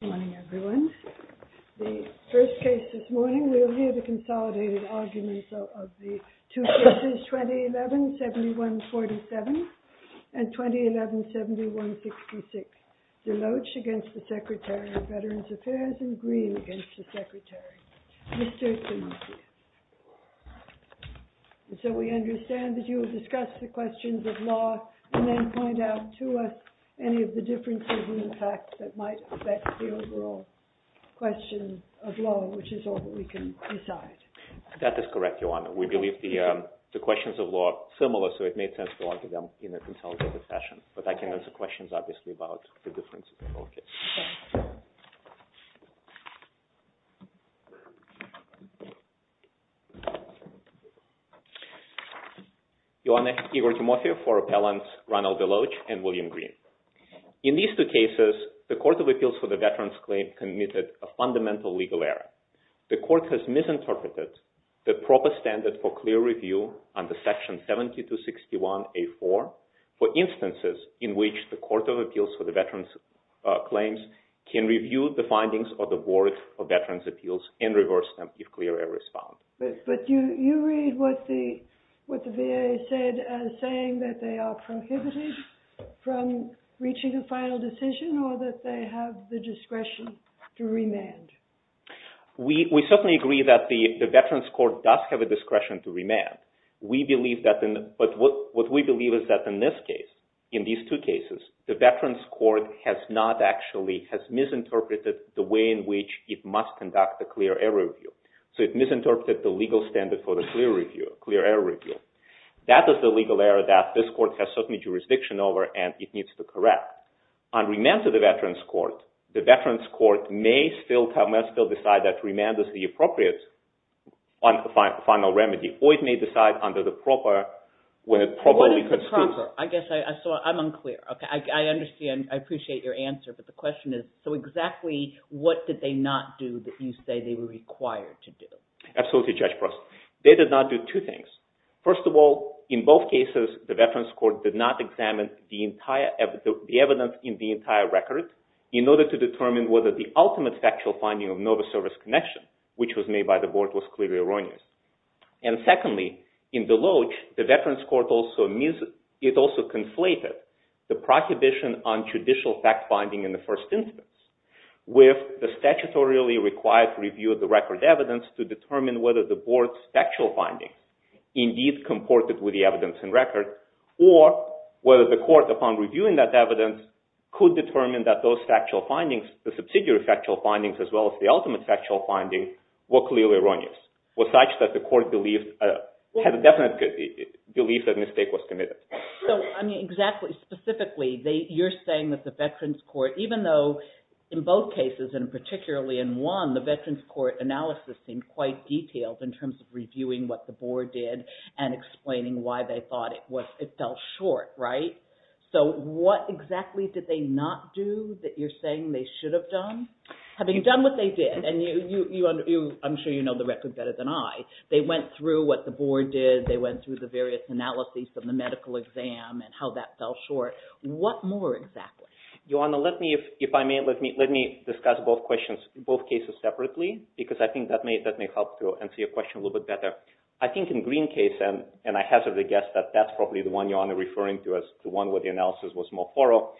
Good morning everyone. The first case this morning, we'll hear the consolidated arguments of the two cases 2011-7147 and 2011-7166. DELOACH against the Secretary of Veterans Affairs and GREEN against the Secretary. Mr. Shinseki. So we understand that you will discuss the questions of law and then point out to us any of the differences in the facts that might affect the overall question of law, which is all that we can decide. SHINSEKI That is correct, Your Honor. We believe the questions of law are similar, so it made sense to argue them in a consolidated fashion. But I can answer questions, obviously, about the difference in focus. Your Honor, Igor Timofeev for Appellants Ronald Deloach and William Green. In these two cases, the Court of Appeals for the Veterans Claim committed a fundamental legal error. The Court has misinterpreted the proper standard for clear review under Section 7261A.4 for instances in which the Court of Appeals for the Veterans Claims can review the findings of the Board of Veterans Appeals and reverse them if clear error is found. But do you read what the VA said as saying that they are prohibited from reaching a final decision or that they have the discretion to remand? SHINSEKI We certainly agree that the Veterans Court does have a discretion to remand. But what we believe is that in this case, in these two cases, the Veterans Court has misinterpreted the way in which it must conduct a clear error review. So it misinterpreted the legal standard for the clear error review. That is the legal error that this Court has certain jurisdiction over, and it needs to correct. On remand to the Veterans Court, the Veterans Court may still decide that remand is the appropriate final remedy, or it may decide under the proper, when it probably constitutes— I'm unclear. I understand. I appreciate your answer. But the question is, so exactly what did they not do that you say they were required to do? And it also conflated the prohibition on judicial fact-finding in the first instance with the statutorily required review of the record evidence to determine whether the board's factual finding indeed comported with the evidence and record, or whether the court, upon reviewing that evidence, could determine that those factual findings, the subsidiary factual findings as well as the ultimate factual finding, were clearly erroneous, were such that the court had a definite belief that a mistake was committed. So, I mean, exactly, specifically, you're saying that the Veterans Court, even though in both cases, and particularly in one, the Veterans Court analysis seemed quite detailed in terms of reviewing what the board did and explaining why they thought it fell short, right? So what exactly did they not do that you're saying they should have done? Having done what they did, and I'm sure you know the record better than I, they went through what the board did. They went through the various analyses of the medical exam and how that fell short. What more exactly? You want to let me, if I may, let me discuss both questions, both cases separately, because I think that may help to answer your question a little bit better. I think in the Green case, and I hazard a guess that that's probably the one you're referring to as the one where the analysis was more thorough,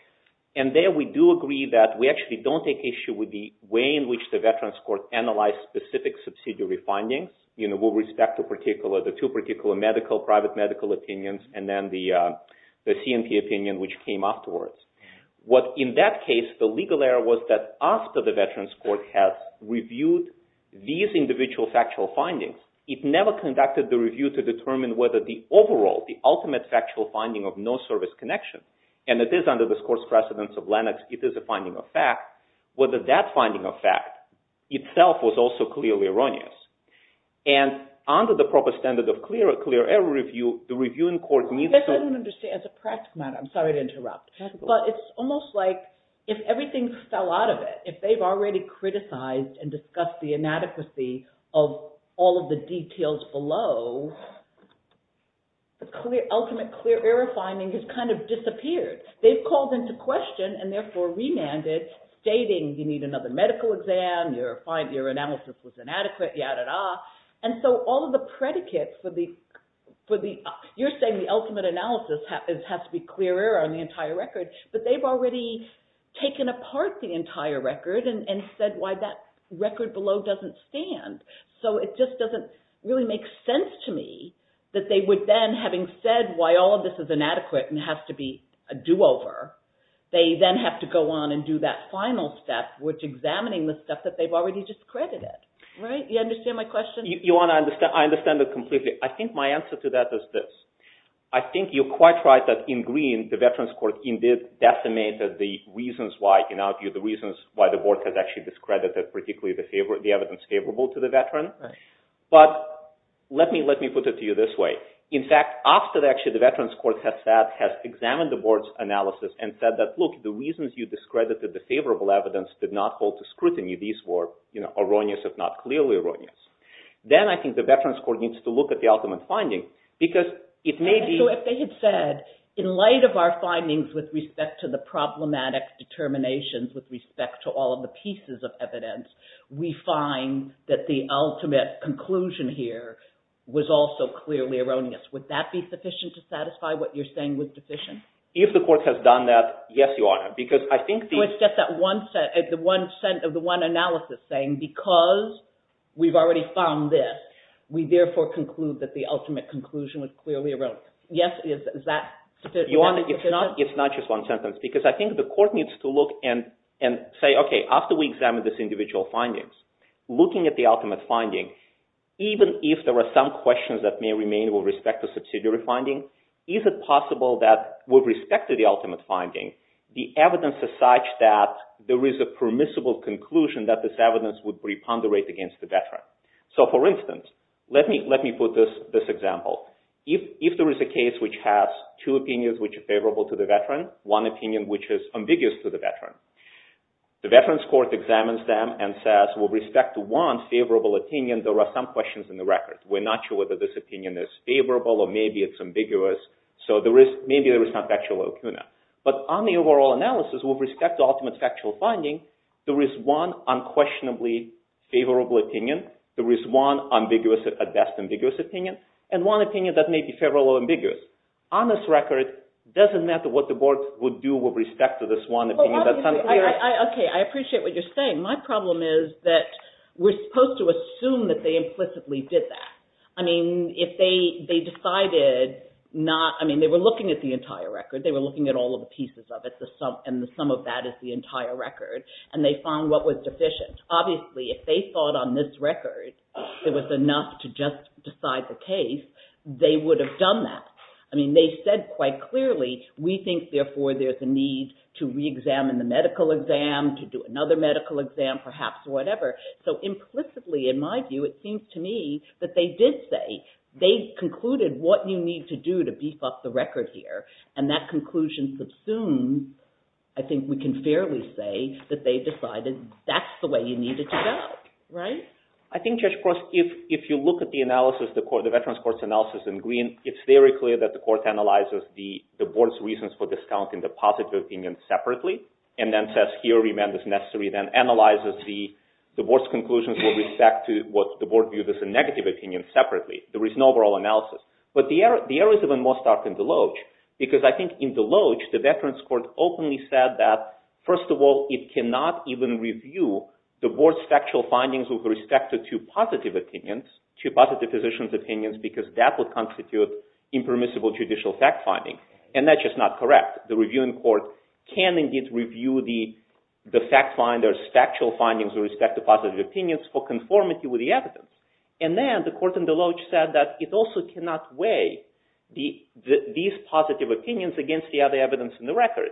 and there we do agree that we actually don't take issue with the way in which the Veterans Court analyzed specific subsidiary findings with respect to particular, the two particular medical, private medical opinions, and then the C&P opinion which came afterwards. What, in that case, the legal error was that after the Veterans Court has reviewed these individual factual findings, it never conducted the review to determine whether the overall, the ultimate factual finding of no service connection, and it is under the course precedence of Lennox, it is a finding of fact, whether that finding of fact itself was also clearly erroneous. And under the proper standard of clear error review, the reviewing court needs to… I'm sorry to interrupt, but it's almost like if everything fell out of it, if they've already criticized and discussed the inadequacy of all of the details below, the clear, ultimate clear error finding has kind of disappeared. They've called into question, and therefore remanded, stating you need another medical exam, your analysis was inadequate, yada-da, and so all of the predicates for the, you're saying the ultimate analysis has to be clear error on the entire record, but they've already taken apart the entire record and said why that record below doesn't stand. So it just doesn't really make sense to me that they would then, having said why all of this is inadequate and has to be a do-over, they then have to go on and do that final step, which examining the stuff that they've already discredited, right? You understand my question? I understand it completely. I think my answer to that is this. I think you're quite right that in green, the Veterans Court indeed decimated the reasons why the board has actually discredited particularly the evidence favorable to the veteran. But let me put it to you this way. In fact, after actually the Veterans Court has said, has examined the board's analysis and said that look, the reasons you discredited the favorable evidence did not hold to scrutiny, these were erroneous if not clearly erroneous. Then I think the Veterans Court needs to look at the ultimate finding because it may be— Would that be sufficient to satisfy what you're saying was deficient? If the court has done that, yes, Your Honor, because I think— So it's just that one analysis saying because we've already found this, we therefore conclude that the ultimate conclusion was clearly erroneous. Yes, is that sufficient? Your Honor, it's not just one sentence because I think the court needs to look and say, okay, after we examine these individual findings, looking at the ultimate finding, even if there are some questions that may remain with respect to subsidiary finding, is it possible that with respect to the ultimate finding, the evidence is such that there is a permissible conclusion that this evidence would preponderate against the veteran? So for instance, let me put this example. If there is a case which has two opinions which are favorable to the veteran, one opinion which is ambiguous to the veteran, the Veterans Court examines them and says with respect to one favorable opinion, there are some questions in the record. We're not sure whether this opinion is favorable or maybe it's ambiguous. So maybe there is not factual opinion. But on the overall analysis with respect to ultimate factual finding, there is one unquestionably favorable opinion. There is one ambiguous, at best, ambiguous opinion, and one opinion that may be favorable or ambiguous. On this record, it doesn't matter what the board would do with respect to this one opinion. Okay, I appreciate what you're saying. My problem is that we're supposed to assume that they implicitly did that. I mean, if they decided not – I mean, they were looking at the entire record. They were looking at all of the pieces of it, and the sum of that is the entire record, and they found what was deficient. Obviously, if they thought on this record it was enough to just decide the case, they would have done that. I mean, they said quite clearly, we think, therefore, there's a need to reexamine the medical exam, to do another medical exam, perhaps, or whatever. So implicitly, in my view, it seems to me that they did say, they concluded what you need to do to beef up the record here, and that conclusion subsumes, I think we can fairly say, that they decided that's the way you needed to go, right? I think, Judge Cross, if you look at the analysis, the Veterans Court's analysis in green, it's very clear that the court analyzes the board's reasons for discounting the positive opinion separately, and then says, here, remand is necessary, then analyzes the board's conclusions with respect to what the board viewed as a negative opinion separately. There is no overall analysis, but the error is even more stark in Deloge, because I think in Deloge, the Veterans Court openly said that, first of all, it cannot even review the board's factual findings with respect to two positive positions' opinions, because that would constitute impermissible judicial fact-finding, and that's just not correct. The Reviewing Court can indeed review the fact-finder's factual findings with respect to positive opinions for conformity with the evidence, and then the court in Deloge said that it also cannot weigh these positive opinions against the other evidence in the record,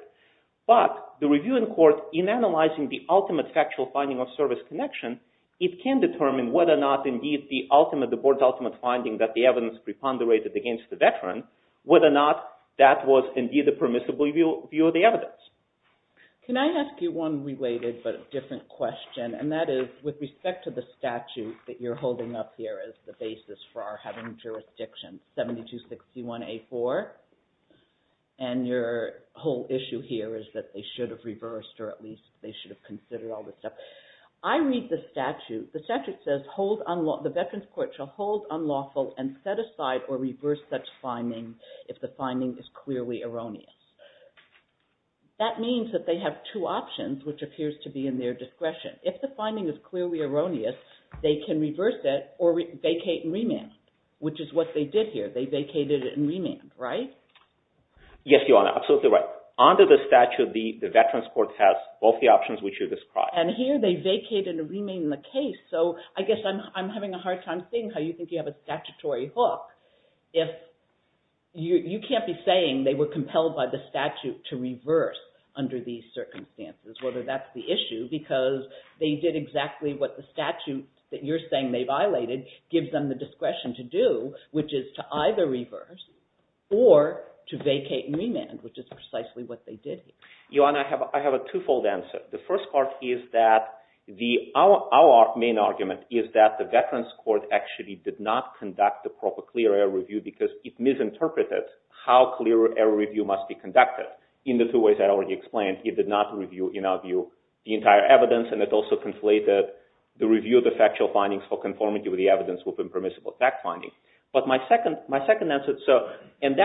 but the Reviewing Court, in analyzing the ultimate factual finding of service connection, it can determine whether or not, indeed, the ultimate, the board's ultimate finding that the evidence preponderated against the veteran, whether or not that was, indeed, a permissible review of the evidence. Can I ask you one related but different question, and that is, with respect to the statute that you're holding up here as the basis for our having jurisdiction, 7261A4, and your whole issue here is that they should have reversed, or at least they should have considered all this stuff. I read the statute. The statute says, the Veterans Court shall hold unlawful and set aside or reverse such finding if the finding is clearly erroneous. That means that they have two options, which appears to be in their discretion. If the finding is clearly erroneous, they can reverse it or vacate and remand, which is what they did here. They vacated it and remanded, right? Yes, Your Honor, absolutely right. Under the statute, the Veterans Court has both the options which you described. And here they vacated and remanded the case, so I guess I'm having a hard time seeing how you think you have a statutory hook. You can't be saying they were compelled by the statute to reverse under these circumstances, whether that's the issue, because they did exactly what the statute that you're saying they violated gives them the discretion to do, which is to either reverse or to vacate and remand, which is precisely what they did here. Your Honor, I have a twofold answer. The first part is that our main argument is that the Veterans Court actually did not conduct a proper clear error review because it misinterpreted how clear error review must be conducted. In the two ways I already explained, it did not review, in our view, the entire evidence, and it also conflated the review of the factual findings for conformity with the evidence of impermissible fact findings. But my second answer, and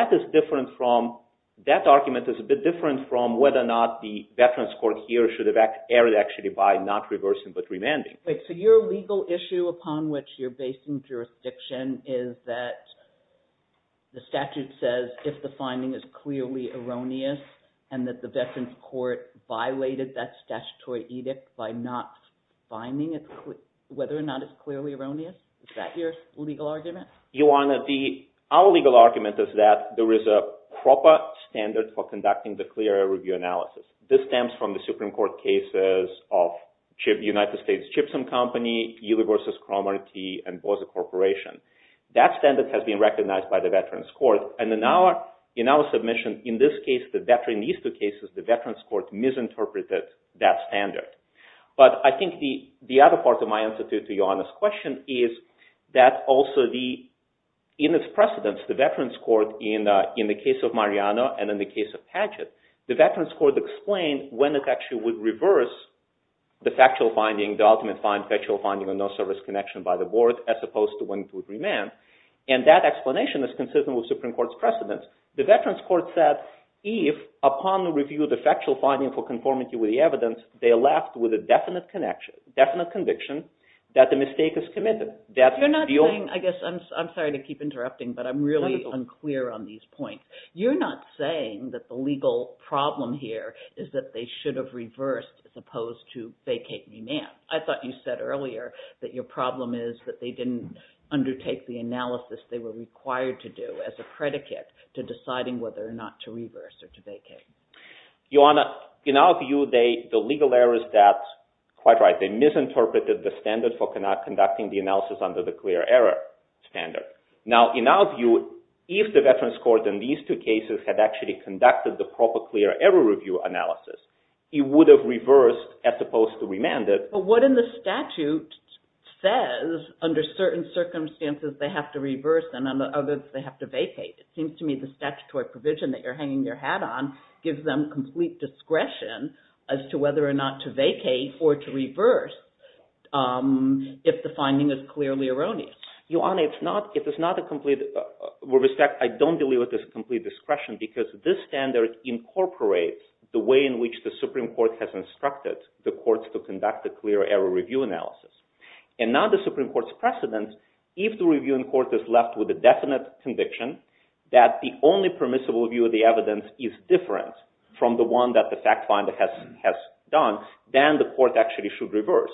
that argument is a bit different from whether or not the Veterans Court here should have erred actually by not reversing but remanding. Wait, so your legal issue upon which you're basing jurisdiction is that the statute says if the finding is clearly erroneous and that the Veterans Court violated that statutory edict by not finding whether or not it's clearly erroneous? Is that your legal argument? Your Honor, our legal argument is that there is a proper standard for conducting the clear error review analysis. This stems from the Supreme Court cases of the United States Chipsom Company, Uli versus Cromarty, and Boser Corporation. That standard has been recognized by the Veterans Court, and in our submission in this case, in these two cases, the Veterans Court misinterpreted that standard. But I think the other part of my answer to your Honor's question is that also in its precedence, the Veterans Court in the case of Mariano and in the case of Padgett, the Veterans Court explained when it actually would reverse the factual finding, the ultimate factual finding of no service connection by the board as opposed to when it would remand. And that explanation is consistent with the Supreme Court's precedence. The Veterans Court said if upon the review of the factual finding for conformity with the evidence, they are left with a definite conviction that the mistake is committed. You're not saying, I guess, I'm sorry to keep interrupting, but I'm really unclear on these points. You're not saying that the legal problem here is that they should have reversed as opposed to vacate remand. I thought you said earlier that your problem is that they didn't undertake the analysis they were required to do as a predicate to deciding whether or not to reverse or to vacate. Your Honor, in our view, the legal error is that, quite right, they misinterpreted the standard for conducting the analysis under the clear error standard. Now, in our view, if the Veterans Court in these two cases had actually conducted the proper clear error review analysis, it would have reversed as opposed to remanded. But what in the statute says under certain circumstances they have to reverse and under others they have to vacate? It seems to me the statutory provision that you're hanging your hat on gives them complete discretion as to whether or not to vacate or to reverse if the finding is clearly erroneous. Your Honor, it's not a complete – with respect, I don't believe it is complete discretion because this standard incorporates the way in which the Supreme Court has instructed the courts to conduct the clear error review analysis. And now the Supreme Court's precedent, if the review in court is left with a definite conviction that the only permissible view of the evidence is different from the one that the fact finder has done, then the court actually should reverse.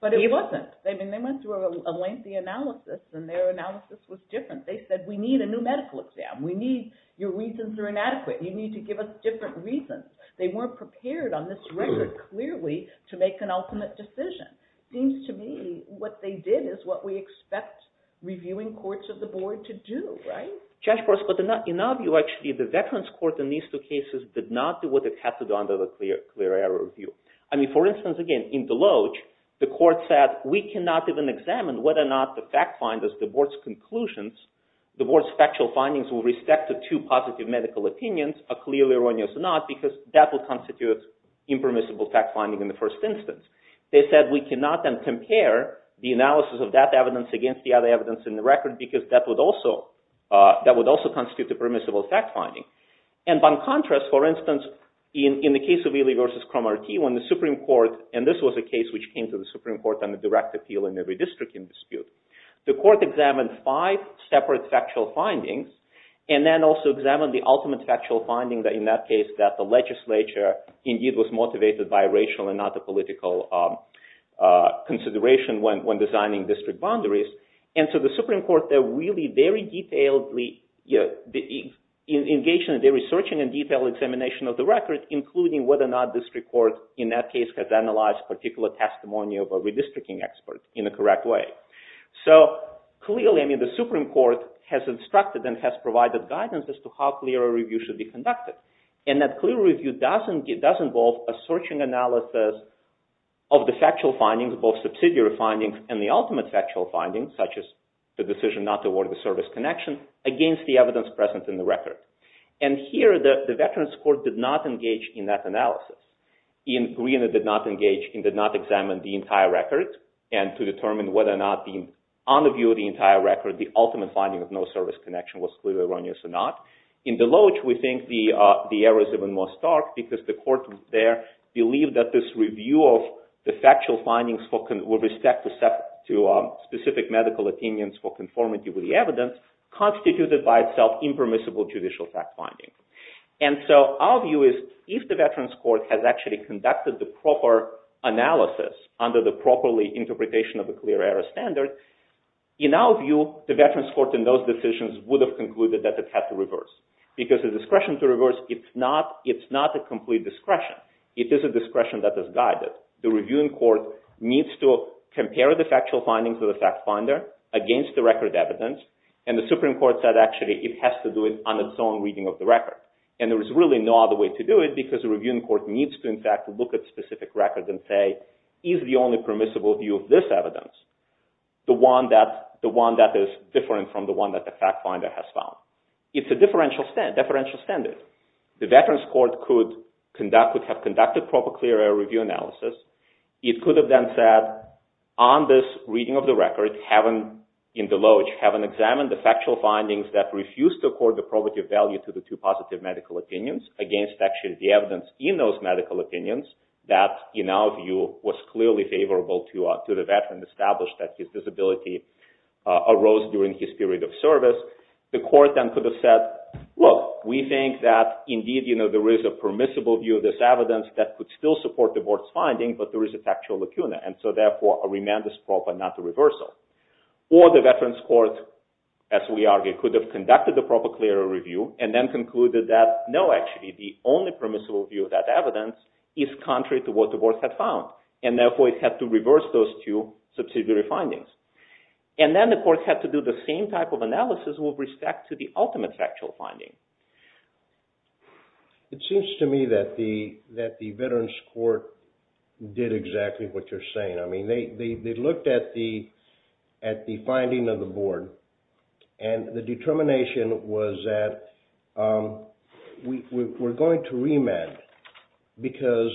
But it wasn't. They went through a lengthy analysis and their analysis was different. They said we need a new medical exam. We need – your reasons are inadequate. You need to give us different reasons. They weren't prepared on this record clearly to make an ultimate decision. It seems to me what they did is what we expect reviewing courts of the board to do, right? Judge Gross, but in our view actually the Veterans Court in these two cases did not do what it had to do under the clear error review. I mean, for instance, again, in Deloge the court said we cannot even examine whether or not the fact finder's, the board's conclusions, the board's factual findings with respect to two positive medical opinions are clearly erroneous or not because that would constitute impermissible fact finding in the first instance. They said we cannot then compare the analysis of that evidence against the other evidence in the record because that would also constitute a permissible fact finding. And by contrast, for instance, in the case of Ely v. Cromartie when the Supreme Court, and this was a case which came to the Supreme Court under direct appeal in every district in dispute, the court examined five separate factual findings and then also examined the ultimate factual finding that in that case that the legislature indeed was motivated by racial and not the political consideration when designing district boundaries. And so the Supreme Court there really very detailedly engaged in a very searching and detailed examination of the record including whether or not district court in that case has analyzed particular testimony of a redistricting expert in a correct way. So clearly, I mean, the Supreme Court has instructed and has provided guidance as to how clear a review should be conducted. And that clear review does involve a searching analysis of the factual findings, both subsidiary findings and the ultimate factual findings such as the decision not to award the service connection against the evidence present in the record. And here the Veterans Court did not engage in that analysis. Iain Greene did not engage and did not examine the entire record and to determine whether or not on the view of the entire record the ultimate finding of no service connection was clearly erroneous or not. In Deloge, we think the error is even more stark because the court there believed that this review of the factual findings with respect to specific medical opinions for conformity with the evidence constituted by itself impermissible judicial fact-finding. And so our view is if the Veterans Court has actually conducted the proper analysis under the properly interpretation of the clear error standard, in our view, the Veterans Court in those decisions would have concluded that it had to reverse. Because the discretion to reverse, it's not a complete discretion. It is a discretion that is guided. The reviewing court needs to compare the factual findings of the fact-finder against the record evidence and the Supreme Court said actually it has to do it on its own reading of the record. And there is really no other way to do it because the reviewing court needs to in fact look at specific records and say is the only permissible view of this evidence the one that is different from the one that the fact-finder has found. It's a differential standard. The Veterans Court could have conducted proper clear error review analysis. It could have then said on this reading of the record, in the loge, having examined the factual findings that refused to accord the probative value to the two positive medical opinions against actually the evidence in those medical opinions that in our view was clearly favorable to the veteran established that his disability arose during his period of service. The court then could have said, look, we think that indeed there is a permissible view of this evidence that could still support the board's finding, but there is a factual lacuna, and so therefore a remand is proper, not a reversal. Or the Veterans Court, as we argue, could have conducted the proper clear error review and then concluded that no, actually, the only permissible view of that evidence is contrary to what the board had found. And therefore it had to reverse those two subsidiary findings. And then the court had to do the same type of analysis with respect to the ultimate factual finding. It seems to me that the Veterans Court did exactly what you're saying. I mean, they looked at the finding of the board, and the determination was that we're going to remand because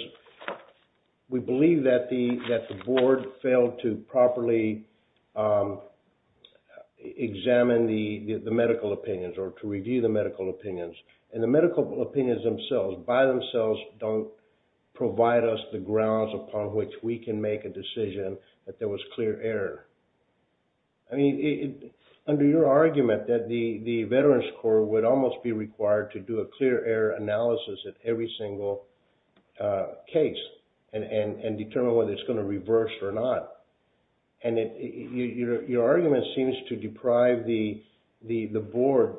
we believe that the board failed to properly examine the medical opinions or to review the medical opinions. And the medical opinions themselves, by themselves, don't provide us the grounds upon which we can make a decision that there was clear error. I mean, under your argument that the Veterans Court would almost be required to do a clear error analysis at every single case and determine whether it's going to reverse or not. And your argument seems to deprive the board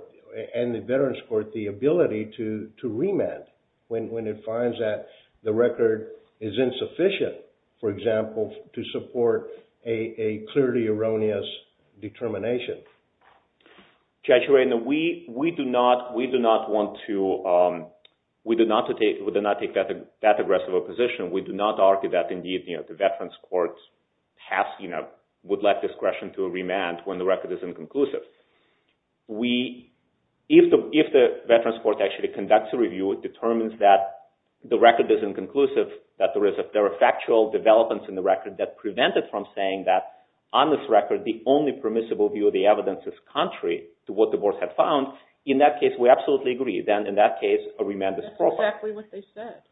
and the Veterans Court the ability to remand when it finds that the record is insufficient, for example, to support a clearly erroneous determination. Judge Urena, we do not take that aggressive a position. We do not argue that, indeed, the Veterans Court would like discretion to remand when the record is inconclusive. If the Veterans Court actually conducts a review, it determines that the record is inconclusive, that there are factual developments in the record that prevent it from saying that, on this record, the only permissible view of the evidence is contrary to what the board had found, in that case, we absolutely agree. Then, in that case, a remand is appropriate. That's exactly what they said.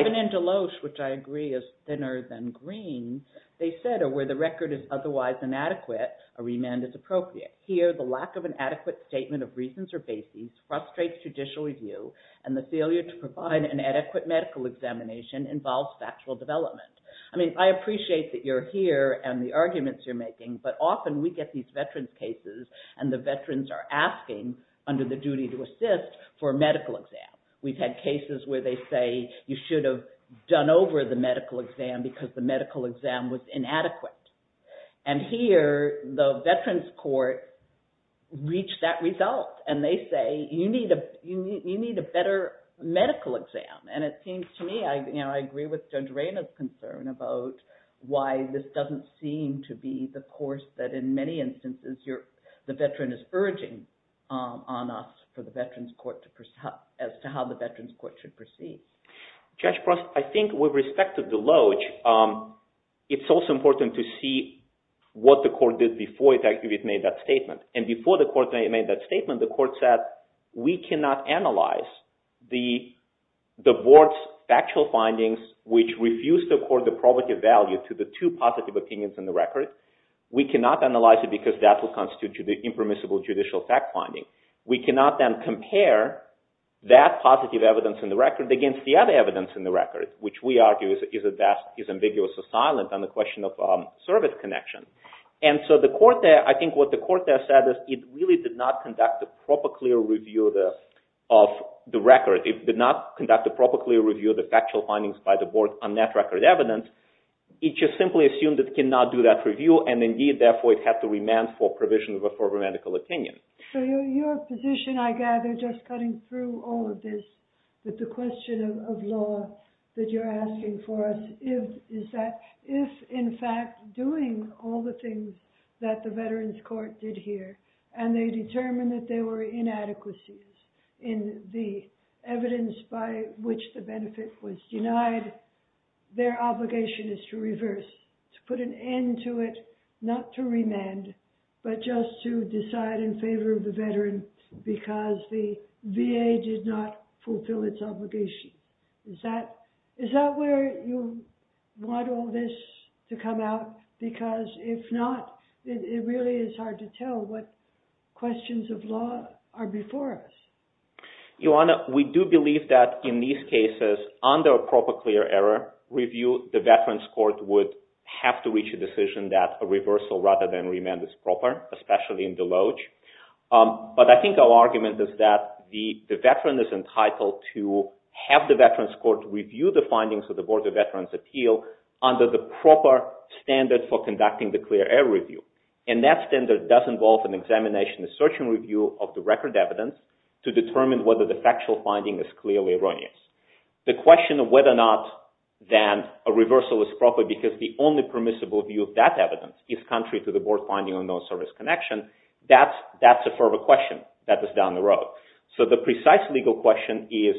Even in Deloes, which I agree is thinner than green, they said, where the record is otherwise inadequate, a remand is appropriate. Here, the lack of an adequate statement of reasons or basis frustrates judicial review, and the failure to provide an adequate medical examination involves factual development. I mean, I appreciate that you're here and the arguments you're making, but often we get these veterans' cases and the veterans are asking, under the duty to assist, for a medical exam. We've had cases where they say you should have done over the medical exam because the medical exam was inadequate. Here, the veterans' court reached that result, and they say, you need a better medical exam. It seems to me, I agree with Judge Reyna's concern about why this doesn't seem to be the course that, in many instances, the veteran is urging on us for the veterans' court, as to how the veterans' court should proceed. Judge Prost, I think with respect to Deloes, it's also important to see what the court did before it actually made that statement. And before the court made that statement, the court said, we cannot analyze the board's factual findings, which refuse the court the probative value to the two positive opinions in the record. We cannot analyze it because that will constitute the impermissible judicial fact finding. We cannot then compare that positive evidence in the record against the other evidence in the record, which we argue is ambiguous or silent on the question of service connection. And so the court there, I think what the court there said is, it really did not conduct a proper, clear review of the record. It did not conduct a proper, clear review of the factual findings by the board on that record evidence. It just simply assumed it cannot do that review, and indeed, therefore, it had to remand for provision of a further medical opinion. So your position, I gather, just cutting through all of this, with the question of law that you're asking for us, is that if, in fact, doing all the things that the Veterans Court did here, and they determined that there were inadequacies in the evidence by which the benefit was denied, their obligation is to reverse, to put an end to it, not to remand, but just to decide in favor of the veteran because the VA did not fulfill its obligation. Is that where you want all this to come out? Because if not, it really is hard to tell what questions of law are before us. Ioanna, we do believe that in these cases, under a proper, clear error review, the Veterans Court would have to reach a decision that a reversal rather than remand is proper, especially in the loge. But I think our argument is that the veteran is entitled to have the Veterans Court review the findings of the Board of Veterans' Appeal under the proper standard for conducting the clear error review, and that standard does involve an examination, a search and review of the record evidence to determine whether the factual finding is clearly erroneous. The question of whether or not then a reversal is proper because the only permissible view of that evidence is contrary to the board finding or no service connection, that's a further question that is down the road. So the precise legal question is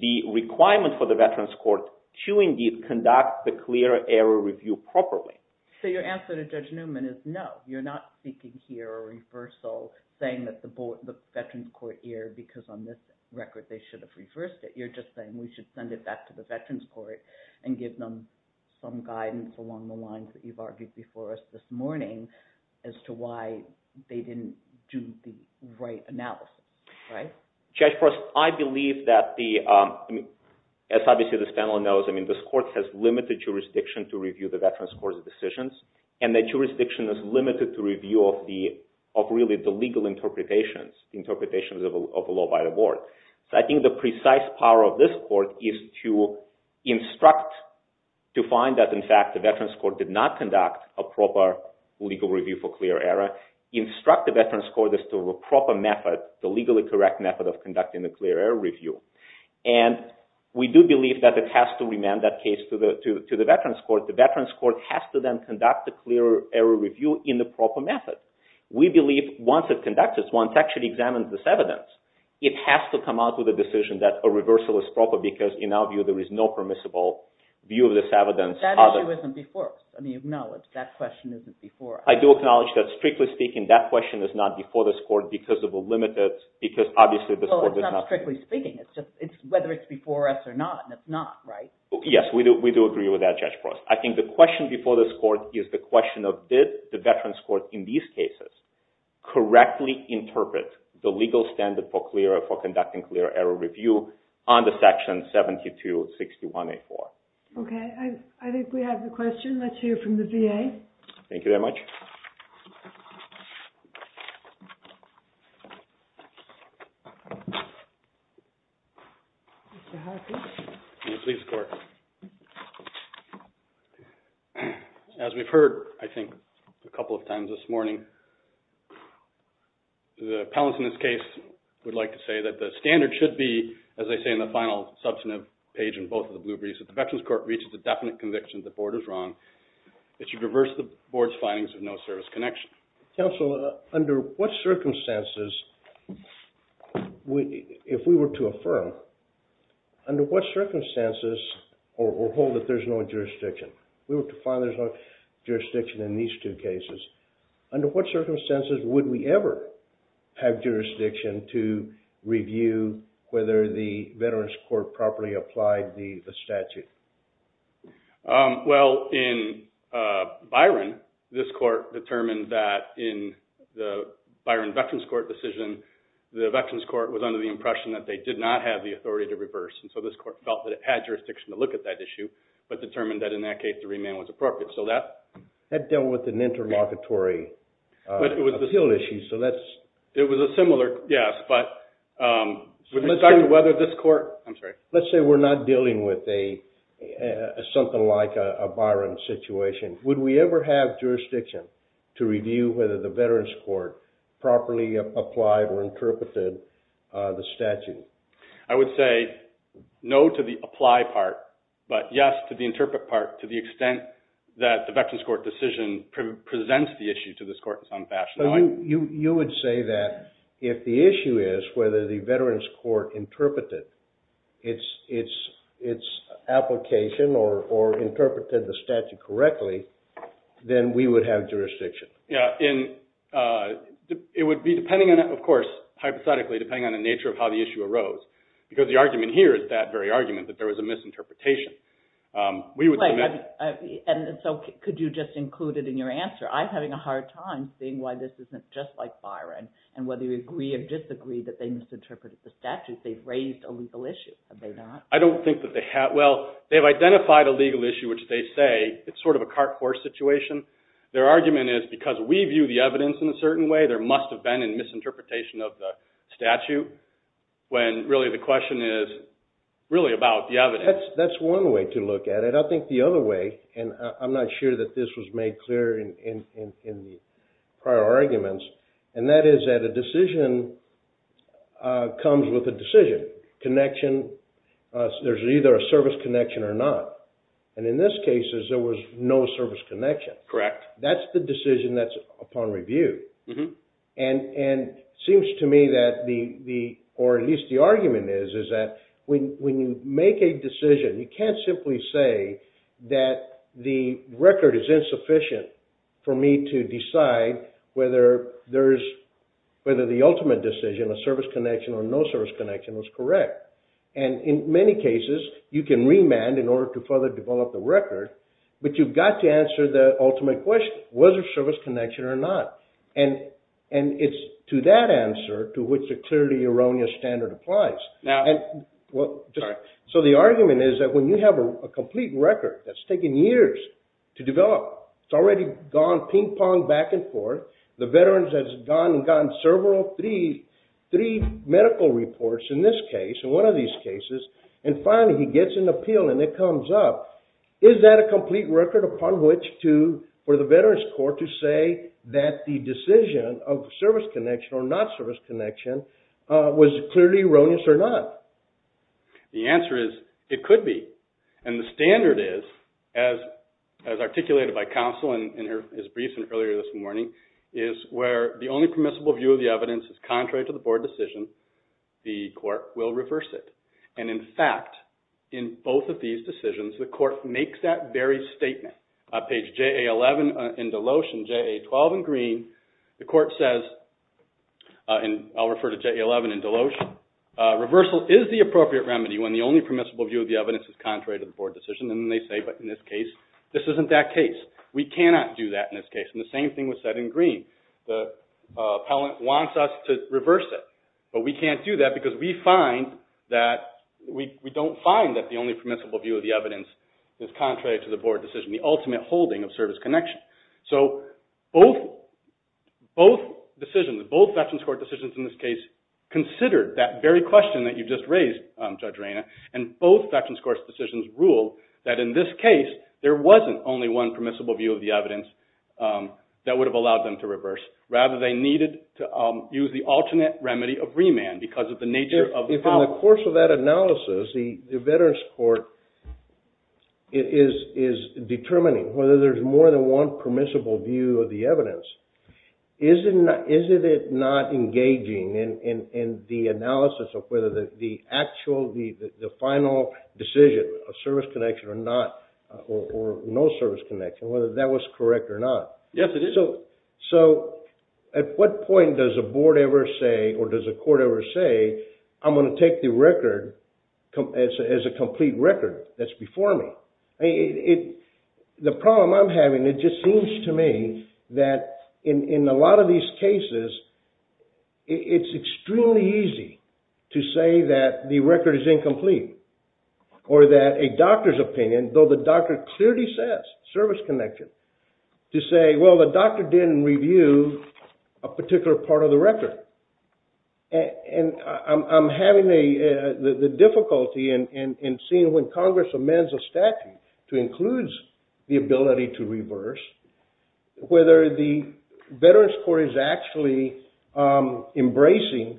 the requirement for the Veterans Court to indeed conduct the clear error review properly. So your answer to Judge Newman is no, you're not speaking here, a reversal, saying that the Veterans Court erred because on this record they should have reversed it. You're just saying we should send it back to the Veterans Court and give them some guidance along the lines that you've argued before us this morning as to why they didn't do the right analysis, right? Judge Forrest, I believe that the, as obviously this panel knows, I mean this court has limited jurisdiction to review the Veterans Court's decisions, and that jurisdiction is limited to review of the, of really the legal interpretations, the interpretations of a law by the board. So I think the precise power of this court is to instruct, to find that in fact the Veterans Court did not conduct a proper legal review for clear error, instruct the Veterans Court as to a proper method, the legally correct method of conducting the clear error review. And we do believe that it has to remain that case to the Veterans Court. The Veterans Court has to then conduct the clear error review in the proper method. We believe once it conducts this, once it actually examines this evidence, it has to come out with a decision that a reversal is proper because in our view there is no permissible view of this evidence. But that issue isn't before us. I mean acknowledge that question isn't before us. I do acknowledge that strictly speaking that question is not before this court because of a limited, because obviously this court does not. Well, it's not strictly speaking. It's whether it's before us or not, and it's not, right? Yes, we do agree with that, Judge Forrest. I think the question before this court is the question of did the Veterans Court in these cases correctly interpret the legal standard for conducting clear error review on the Section 7261A4? Okay. I think we have the question. Let's hear from the VA. Thank you very much. Mr. Harkin. Please, court. As we've heard, I think, a couple of times this morning, the appellants in this case would like to say that the standard should be, as they say in the final substantive page in both of the blue briefs, that the Veterans Court reaches a definite conviction that the board is wrong. It should reverse the board's findings of no service connection. Counsel, under what circumstances if we were to affirm, under what circumstances, or hold that there's no jurisdiction, we were to find there's no jurisdiction in these two cases, under what circumstances would we ever have jurisdiction to review whether the Veterans Court properly applied the statute? Well, in Byron, this court determined that in the Byron Veterans Court decision, the Veterans Court was under the impression that they did not have the authority to reverse. And so this court felt that it had jurisdiction to look at that issue, but determined that in that case the remand was appropriate. So that dealt with an interlocutory appeal issue. It was a similar, yes. Let's say we're not dealing with something like a Byron situation. Would we ever have jurisdiction to review whether the Veterans Court properly applied or interpreted the statute? I would say no to the apply part, but yes to the interpret part, to the extent that the Veterans Court decision presents the issue to this court in some fashion. You would say that if the issue is whether the Veterans Court interpreted its application or interpreted the statute correctly, then we would have jurisdiction. It would be depending on, of course, hypothetically, depending on the nature of how the issue arose. Because the argument here is that very argument, that there was a misinterpretation. And so could you just include it in your answer? I'm having a hard time seeing why this isn't just like Byron, and whether you agree or disagree that they misinterpreted the statute. They've raised a legal issue, have they not? I don't think that they have. Well, they've identified a legal issue, which they say it's sort of a cart force situation. Their argument is because we view the evidence in a certain way, there must have been a misinterpretation of the statute, when really the question is really about the evidence. That's one way to look at it. I think the other way, and I'm not sure that this was made clear in the prior arguments, and that is that a decision comes with a decision. Connection, there's either a service connection or not. And in this case, there was no service connection. Correct. That's the decision that's upon review. And it seems to me that the, or at least the argument is, is that when you make a decision, you can't simply say that the record is insufficient for me to decide whether the ultimate decision, a service connection or no service connection, was correct. And in many cases, you can remand in order to further develop the record, but you've got to answer the ultimate question, whether service connection or not. And it's to that answer to which a clearly erroneous standard applies. So the argument is that when you have a complete record that's taken years to develop, it's already gone ping pong back and forth, the veterans has gone and gotten several, three medical reports in this case, in one of these cases, and finally he gets an appeal and it comes up. Is that a complete record upon which to, for the veterans court to say that the decision of service connection or not service connection was clearly erroneous or not? The answer is, it could be. And the standard is, as articulated by counsel in his brief earlier this morning, is where the only permissible view of the evidence is contrary to the board decision. The court will reverse it. And in fact, in both of these decisions, the court makes that very statement. On page JA11 in Deloeshe and JA12 in Green, the court says, and I'll refer to JA11 in Deloeshe, reversal is the appropriate remedy when the only permissible view of the evidence is contrary to the board decision. And they say, but in this case, this isn't that case. We cannot do that in this case. And the same thing was said in Green. The appellant wants us to reverse it. But we can't do that because we don't find that the only permissible view of the evidence is contrary to the board decision, the ultimate holding of service connection. So both decisions, both veterans court decisions in this case, considered that very question that you just raised, Judge Reyna, and both veterans court decisions ruled that in this case there wasn't only one permissible view of the evidence that would have allowed them to reverse. Rather, they needed to use the alternate remedy of remand because of the nature of the power. If in the course of that analysis, the veterans court is determining whether there's more than one permissible view of the evidence, isn't it not engaging in the analysis of whether the actual, the final decision of service connection or not, or no service connection, whether that was correct or not? Yes, it is. So at what point does a board ever say, or does a court ever say, I'm going to take the record as a complete record that's before me? The problem I'm having, it just seems to me that in a lot of these cases, it's extremely easy to say that the record is incomplete. Or that a doctor's opinion, though the doctor clearly says service connection, to say, well, the doctor didn't review a particular part of the record. And I'm having the difficulty in seeing when Congress amends a statute to include the ability to reverse, whether the veterans court is actually embracing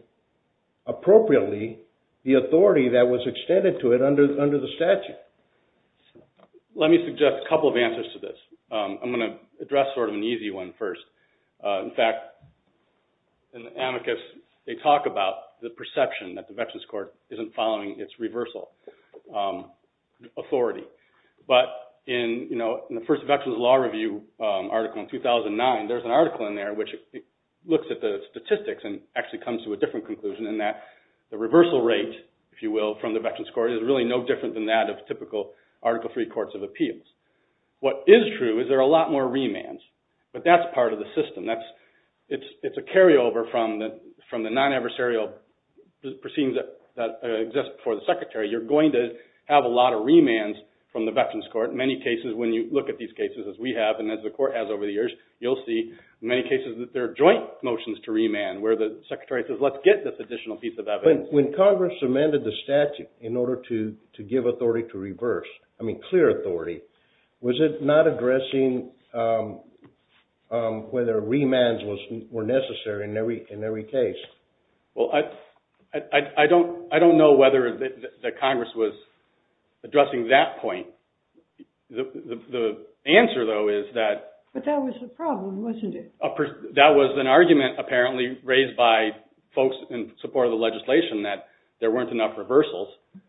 appropriately the authority that was extended to it under the statute. Let me suggest a couple of answers to this. I'm going to address sort of an easy one first. In fact, in the amicus, they talk about the perception that the veterans court isn't following its reversal authority. But in the first Veterans Law Review article in 2009, there's an article in there which looks at the statistics and actually comes to a different conclusion in that the reversal rate, if you will, from the veterans court is really no different than that of typical Article III courts of appeals. What is true is there are a lot more remands. But that's part of the system. It's a carryover from the non-adversarial proceedings that exist before the secretary. You're going to have a lot of remands from the veterans court. In many cases, when you look at these cases as we have and as the court has over the years, you'll see in many cases that there are joint motions to remand where the secretary says, let's get this additional piece of evidence. When Congress amended the statute in order to give authority to reverse, I mean clear authority, was it not addressing whether remands were necessary in every case? Well, I don't know whether the Congress was addressing that point. The answer, though, is that. But that was the problem, wasn't it? That was an argument apparently raised by folks in support of the legislation, that there weren't enough reversals.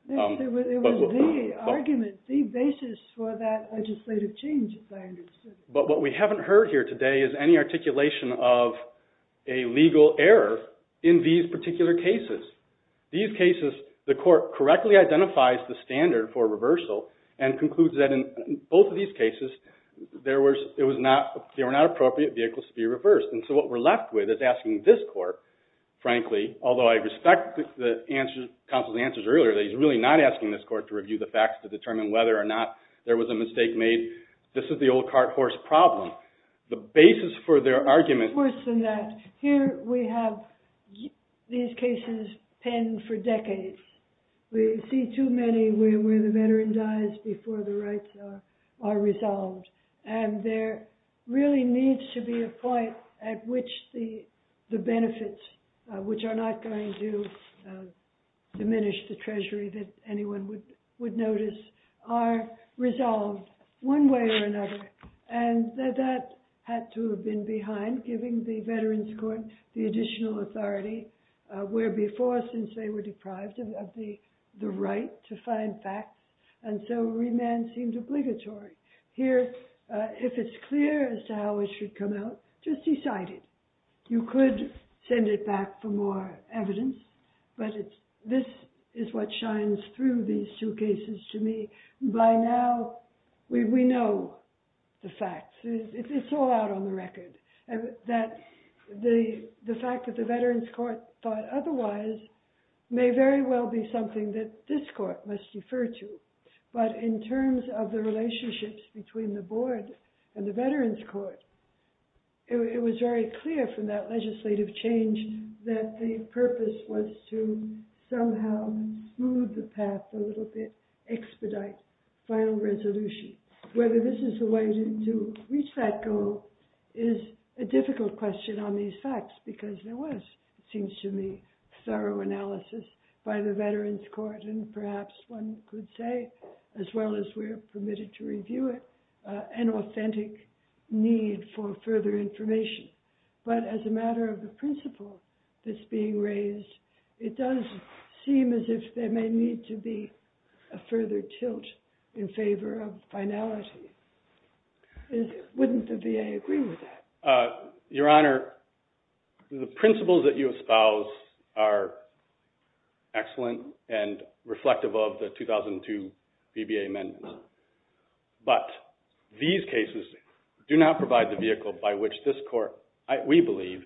It was the argument, the basis for that legislative change, as I understand it. But what we haven't heard here today is any articulation of a legal error in these particular cases. These cases, the court correctly identifies the standard for reversal and concludes that in both of these cases, there were not appropriate vehicles to be reversed. And so what we're left with is asking this court, frankly, although I respect the counsel's answers earlier, that he's really not asking this court to review the facts to determine whether or not there was a mistake made. This is the old cart-horse problem. The basis for their argument... It's worse than that. Here we have these cases penned for decades. We see too many where the veteran dies before the rights are resolved. And there really needs to be a point at which the benefits, which are not going to diminish the treasury that anyone would notice, are resolved. One way or another. And that had to have been behind giving the veterans court the additional authority where before, since they were deprived of the right to find facts, and so remand seemed obligatory. Here, if it's clear as to how it should come out, just decide it. You could send it back for more evidence, but this is what shines through these two cases to me. By now, we know the facts. It's all out on the record. The fact that the veterans court thought otherwise may very well be something that this court must defer to. But in terms of the relationships between the board and the veterans court, it was very clear from that legislative change that the purpose was to somehow smooth the path a little bit, expedite final resolution. Whether this is the way to reach that goal is a difficult question on these facts because there was, it seems to me, thorough analysis by the veterans court, and perhaps one could say, as well as we're permitted to review it, an authentic need for further information. But as a matter of the principle that's being raised, it does seem as if there may need to be a further tilt in favor of finality. Wouldn't the VA agree with that? Your Honor, the principles that you espouse are excellent and reflective of the 2002 VBA amendments. But these cases do not provide the vehicle by which this court, we believe,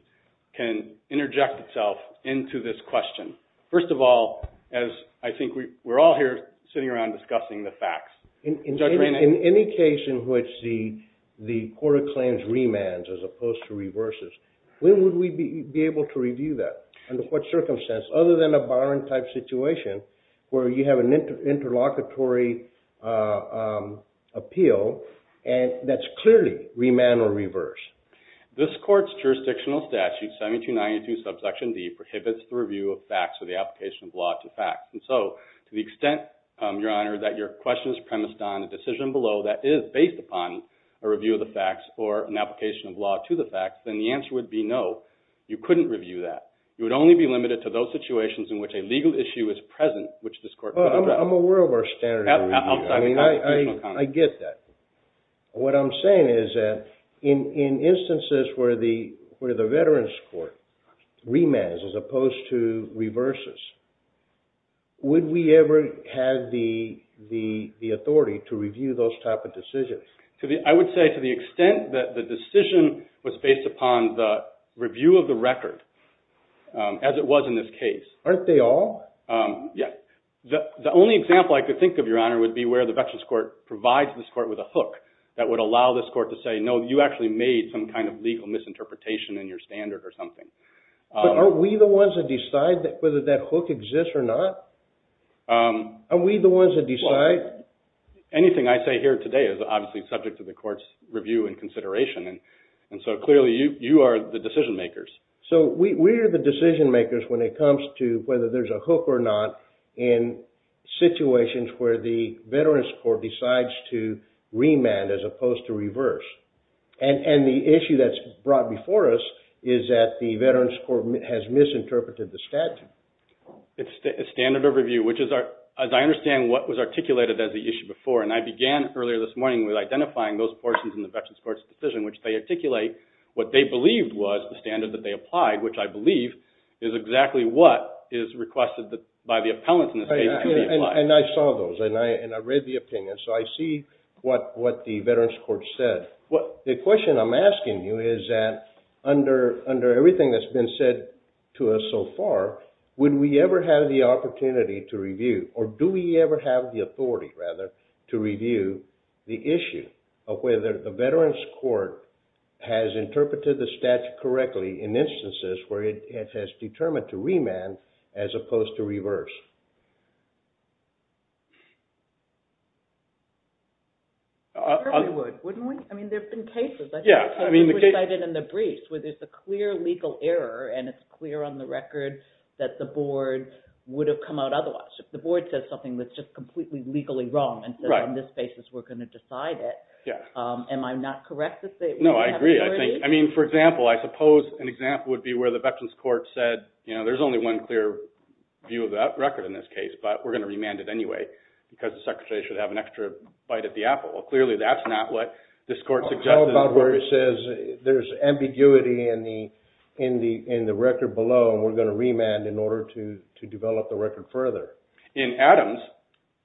can interject itself into this question. First of all, as I think we're all here sitting around discussing the facts. In any case in which the court of claims remands as opposed to reverses, when would we be able to review that? Under what circumstance? Other than a barring type situation where you have an interlocutory appeal, and that's clearly remand or reverse. This court's jurisdictional statute, 1792 subsection D, prohibits the review of facts or the application of law to facts. And so to the extent, Your Honor, that your question is premised on a decision below that is based upon a review of the facts or an application of law to the facts, then the answer would be no. You couldn't review that. You would only be limited to those situations in which a legal issue is present, which this court could address. I'm aware of our standard of review. I get that. What I'm saying is that in instances where the veterans' court remands as opposed to reverses, would we ever have the authority to review those type of decisions? I would say to the extent that the decision was based upon the review of the record, as it was in this case. Aren't they all? Yes. The only example I could think of, Your Honor, would be where the veterans' court provides this court with a hook that would allow this court to say, no, you actually made some kind of legal misinterpretation in your standard or something. But are we the ones that decide whether that hook exists or not? Are we the ones that decide? Anything I say here today is obviously subject to the court's review and consideration. And so clearly you are the decision makers. So we are the decision makers when it comes to whether there's a hook or not in situations where the veterans' court decides to remand as opposed to reverse. And the issue that's brought before us is that the veterans' court has misinterpreted the statute. It's standard of review, which is, as I understand, what was articulated as the issue before. And I began earlier this morning with identifying those portions in the veterans' court's decision, which they articulate what they believed was the standard that they applied, which I believe is exactly what is requested by the appellant in this case to be applied. And I saw those, and I read the opinion, so I see what the veterans' court said. The question I'm asking you is that under everything that's been said to us so far, would we ever have the opportunity to review, or do we ever have the authority, rather, to review the issue of whether the veterans' court has interpreted the statute correctly in instances where it has determined to remand as opposed to reverse? We probably would, wouldn't we? I mean, there have been cases. Yeah. I think we cited in the briefs where there's a clear legal error, and it's clear on the record that the board would have come out otherwise. If the board says something that's just completely legally wrong and says, on this basis, we're going to decide it. Yeah. Am I not correct? No, I agree, I think. I mean, for example, I suppose an example would be where the veterans' court said, you know, there's only one clear view of that record, but we're going to remand it anyway because the secretary should have an extra bite at the apple. Well, clearly that's not what this court suggested. How about where it says there's ambiguity in the record below, and we're going to remand in order to develop the record further? In Adams,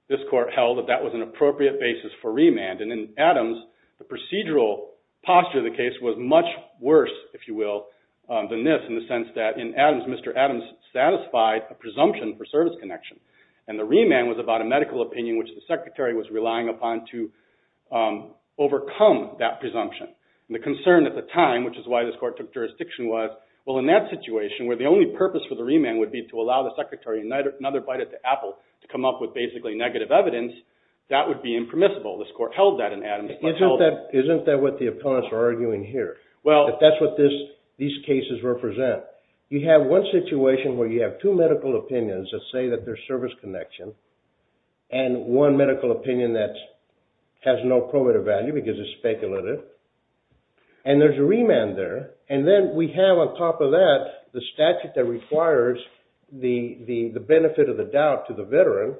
this court held that that was an appropriate basis for remand. And in Adams, the procedural posture of the case was much worse, if you will, than this, in the sense that in Adams, Mr. Adams satisfied a presumption for service connection, and the remand was about a medical opinion which the secretary was relying upon to overcome that presumption. And the concern at the time, which is why this court took jurisdiction, was, well, in that situation where the only purpose for the remand would be to allow the secretary another bite at the apple to come up with basically negative evidence, that would be impermissible. This court held that in Adams. Isn't that what the opponents are arguing here? That that's what these cases represent. You have one situation where you have two medical opinions that say that there's service connection, and one medical opinion that has no probative value because it's speculative, and there's a remand there. And then we have on top of that the statute that requires the benefit of the doubt to the veteran.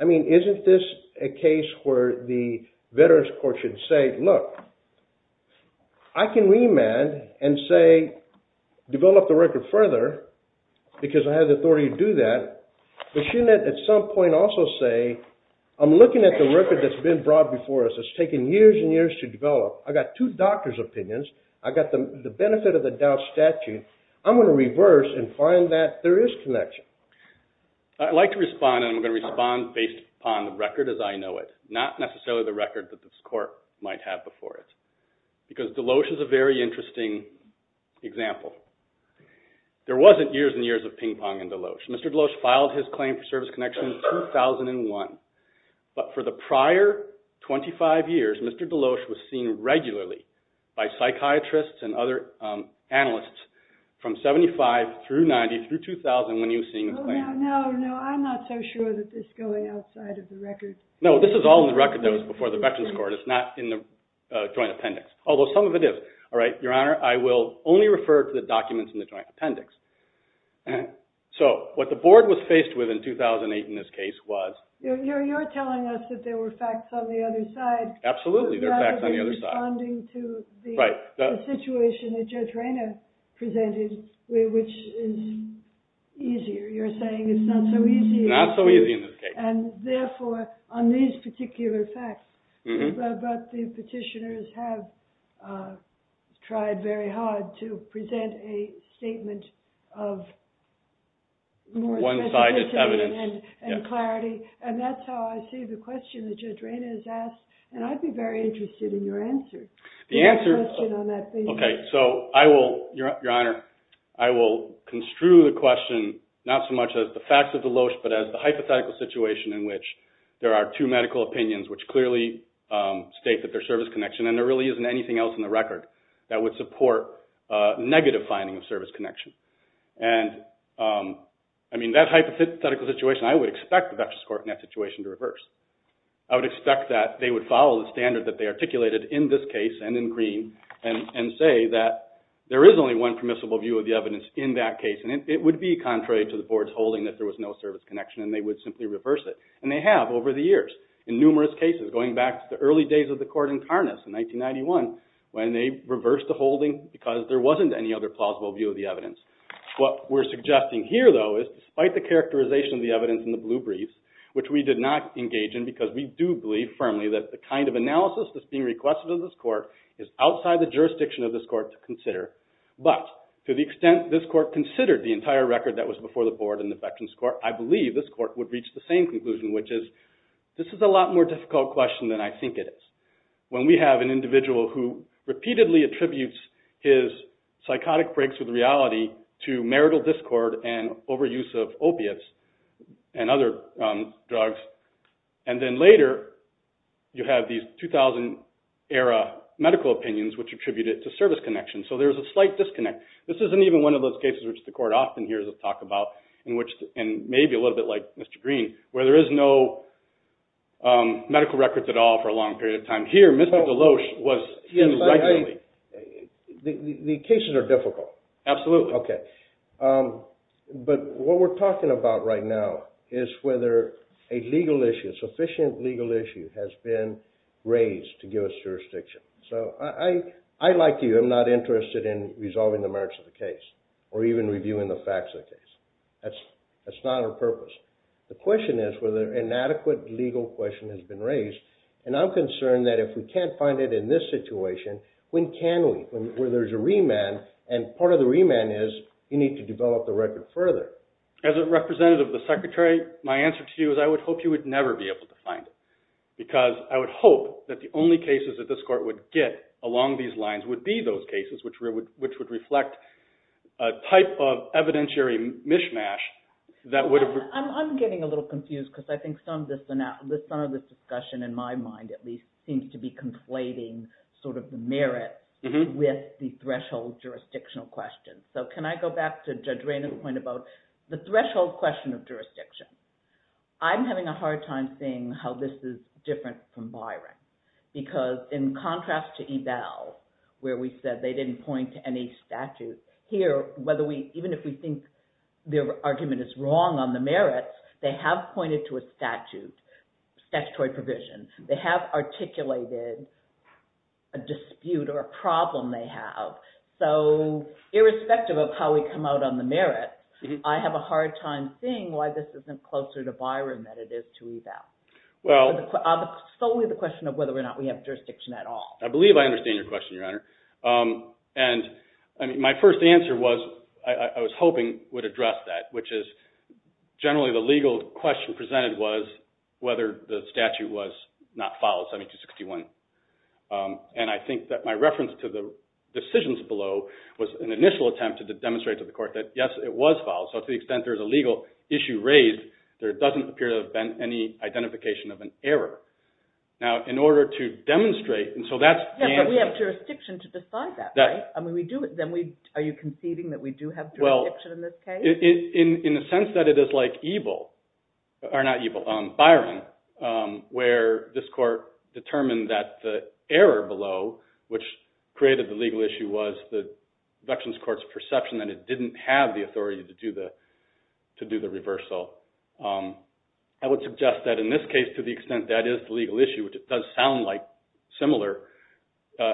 I mean, isn't this a case where the veterans court should say, look, I can remand and say develop the record further because I have the authority to do that, but shouldn't it at some point also say, I'm looking at the record that's been brought before us. It's taken years and years to develop. I've got two doctors' opinions. I've got the benefit of the doubt statute. I'm going to reverse and find that there is connection. I'd like to respond, and I'm going to respond based upon the record as I know it, not necessarily the record that this court might have before it. Because Deloach is a very interesting example. There wasn't years and years of ping pong in Deloach. Mr. Deloach filed his claim for service connection in 2001, but for the prior 25 years, Mr. Deloach was seen regularly by psychiatrists and other analysts from 75 through 90 through 2000 when he was seeing his claim. No, no, I'm not so sure that this is going outside of the record. No, this is all in the record that was before the Veterans Court. It's not in the joint appendix, although some of it is. All right, Your Honor, I will only refer to the documents in the joint appendix. So what the board was faced with in 2008 in this case was— You're telling us that there were facts on the other side. Absolutely, there were facts on the other side. Rather than responding to the situation that Judge Rayner presented, which is easier. You're saying it's not so easy. Not so easy in this case. And therefore, on these particular facts, but the petitioners have tried very hard to present a statement of more specificity and clarity. One-sided evidence. And that's how I see the question that Judge Rayner has asked, and I'd be very interested in your answer to that question on that basis. Okay, so I will—Your Honor, I will construe the question not so much as the facts of Deloach but as the hypothetical situation in which there are two medical opinions, which clearly state that there's service connection, and there really isn't anything else in the record that would support negative finding of service connection. And, I mean, that hypothetical situation, I would expect the Veterans Court in that situation to reverse. I would expect that they would follow the standard that they articulated in this case and in Green and say that there is only one permissible view of the evidence in that case, and it would be contrary to the Board's holding that there was no service connection, and they would simply reverse it. And they have over the years in numerous cases, going back to the early days of the court in Tarnas in 1991, when they reversed the holding because there wasn't any other plausible view of the evidence. What we're suggesting here, though, is despite the characterization of the evidence in the blue brief, which we did not engage in because we do believe firmly that the kind of analysis that's being requested of this court is outside the jurisdiction of this court to consider, but to the extent this court considered the entire record that was before the Board and the Veterans Court, I believe this court would reach the same conclusion, which is, this is a lot more difficult question than I think it is. When we have an individual who repeatedly attributes his psychotic breaks with reality to marital discord and overuse of opiates and other drugs, and then later you have these 2000-era medical opinions which attribute it to service connections, so there's a slight disconnect. This isn't even one of those cases which the court often hears us talk about, and maybe a little bit like Mr. Green, where there is no medical records at all for a long period of time. Here, Mr. Deloach was in regularly. The cases are difficult. Absolutely. Okay. But what we're talking about right now is whether a legal issue, a sufficient legal issue has been raised to give us jurisdiction. So I, like you, am not interested in resolving the merits of the case or even reviewing the facts of the case. That's not our purpose. The question is whether an adequate legal question has been raised, and I'm concerned that if we can't find it in this situation, when can we? When there's a remand, and part of the remand is you need to develop the record further. As a representative of the Secretary, my answer to you is I would hope you would never be able to find it because I would hope that the only cases that this court would get along these lines would be those cases which would reflect a type of evidentiary mishmash that would have… I'm getting a little confused because I think some of this discussion, in my mind at least, seems to be conflating sort of the merit with the threshold jurisdictional question. So can I go back to Judge Raynor's point about the threshold question of jurisdiction? I'm having a hard time seeing how this is different from Byron because in contrast to Ebell where we said they didn't point to any statute, here, even if we think their argument is wrong on the merits, they have pointed to a statute, statutory provision. They have articulated a dispute or a problem they have. So irrespective of how we come out on the merit, I have a hard time seeing why this isn't closer to Byron than it is to Ebell. It's solely the question of whether or not we have jurisdiction at all. I believe I understand your question, Your Honor. And my first answer was I was hoping would address that, which is generally the legal question presented was whether the statute was not filed, 7261. And I think that my reference to the decisions below was an initial attempt to demonstrate to the court that, yes, it was filed. So to the extent there is a legal issue raised, there doesn't appear to have been any identification of an error. Now, in order to demonstrate, and so that's… Yes, but we have jurisdiction to decide that, right? Are you conceding that we do have jurisdiction in this case? Well, in the sense that it is like Ebell, or not Ebell, Byron, where this court determined that the error below, which created the legal issue, was the Veterans Court's perception that it didn't have the authority to do the reversal. I would suggest that in this case, to the extent that is the legal issue, which it does sound like similar,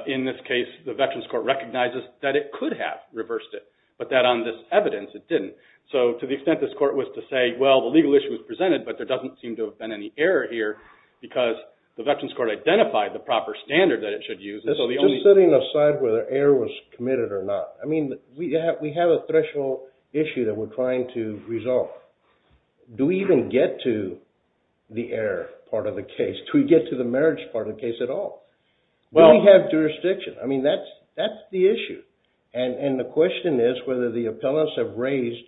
in this case, the Veterans Court recognizes that it could have reversed it, but that on this evidence, it didn't. So to the extent this court was to say, well, the legal issue was presented, but there doesn't seem to have been any error here, because the Veterans Court identified the proper standard that it should use. This is setting aside whether error was committed or not. I mean, we have a threshold issue that we're trying to resolve. Do we even get to the error part of the case? Do we get to the marriage part of the case at all? Do we have jurisdiction? I mean, that's the issue. And the question is whether the appellants have raised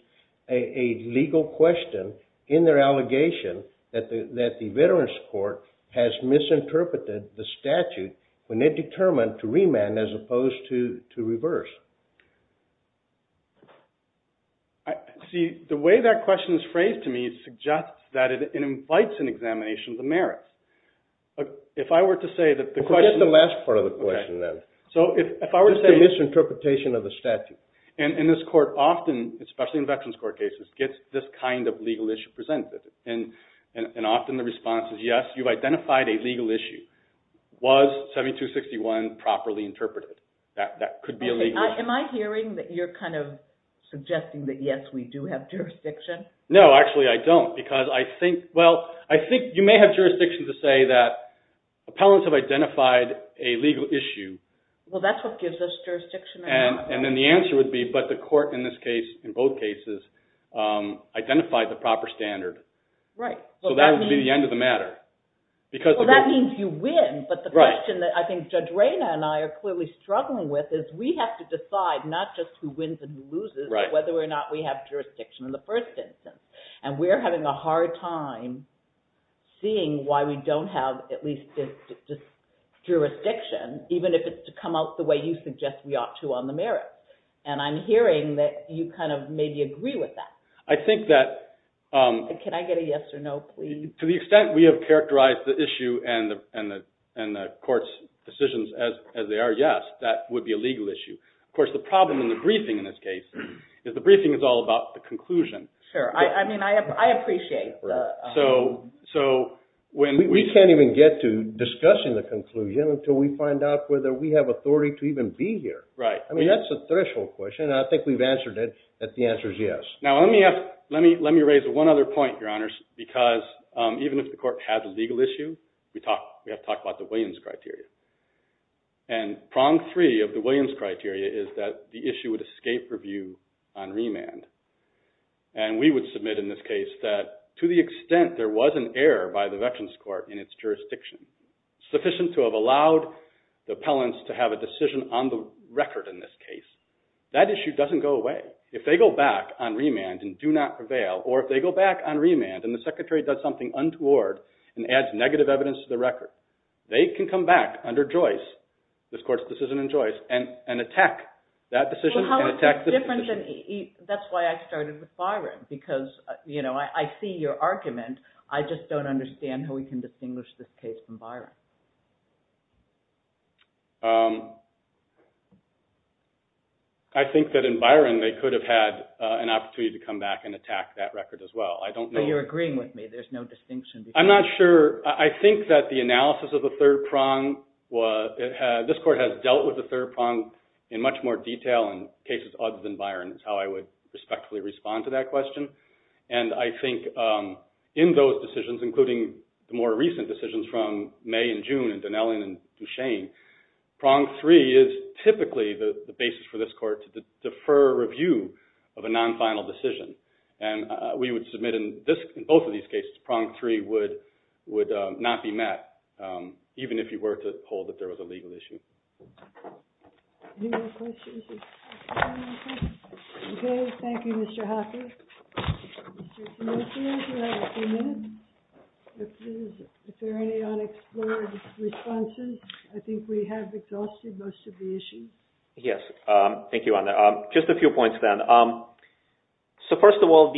a legal question in their allegation that the Veterans Court has misinterpreted the statute when they determined to remand as opposed to reverse. See, the way that question is phrased to me suggests that it invites an examination of the merits. If I were to say that the question… Forget the last part of the question, then. So if I were to say… It's a misinterpretation of the statute. And this court often, especially in Veterans Court cases, gets this kind of legal issue presented. And often the response is, yes, you've identified a legal issue. Was 7261 properly interpreted? That could be a legal issue. Am I hearing that you're kind of suggesting that, yes, we do have jurisdiction? No, actually I don't, because I think… Well, I think you may have jurisdiction to say that appellants have identified a legal issue. Well, that's what gives us jurisdiction. And then the answer would be, but the court in this case, in both cases, identified the proper standard. So that would be the end of the matter. Well, that means you win. But the question that I think Judge Reyna and I are clearly struggling with is we have to decide not just who wins and who loses, but whether or not we have jurisdiction in the first instance. And we're having a hard time seeing why we don't have at least jurisdiction, even if it's to come out the way you suggest we ought to on the merits. And I'm hearing that you kind of maybe agree with that. I think that… Can I get a yes or no, please? To the extent we have characterized the issue and the court's decisions as they are, yes, that would be a legal issue. Of course, the problem in the briefing in this case is the briefing is all about the conclusion. Sure. I mean, I appreciate the… We can't even get to discussing the conclusion until we find out whether we have authority to even be here. Right. I mean, that's a threshold question, and I think we've answered it, that the answer is yes. Now, let me raise one other point, Your Honors, because even if the court has a legal issue, we have to talk about the Williams criteria. And we would submit in this case that, to the extent there was an error by the Veterans Court in its jurisdiction, sufficient to have allowed the appellants to have a decision on the record in this case, that issue doesn't go away. If they go back on remand and do not prevail, or if they go back on remand and the Secretary does something untoward and adds negative evidence to the record, they can come back under Joyce, this court's decision in Joyce, and attack that decision and attack the… It's different than… That's why I started with Byron, because, you know, I see your argument. I just don't understand how we can distinguish this case from Byron. I think that in Byron, they could have had an opportunity to come back and attack that record as well. I don't know… But you're agreeing with me. There's no distinction between… I'm not sure. I think that the analysis of the third prong was… in cases other than Byron, is how I would respectfully respond to that question. And I think in those decisions, including the more recent decisions from May and June and Donnellan and Duchesne, prong three is typically the basis for this court to defer review of a non-final decision. And we would submit in both of these cases, prong three would not be met, even if you were to hold that there was a legal issue. Any more questions? Okay. Thank you, Mr. Hoppe. Mr. Simosian, do you have a few minutes? If there are any unexplored responses, I think we have exhausted most of the issues. Yes. Thank you, Anna. Just a few points then. So, first of all,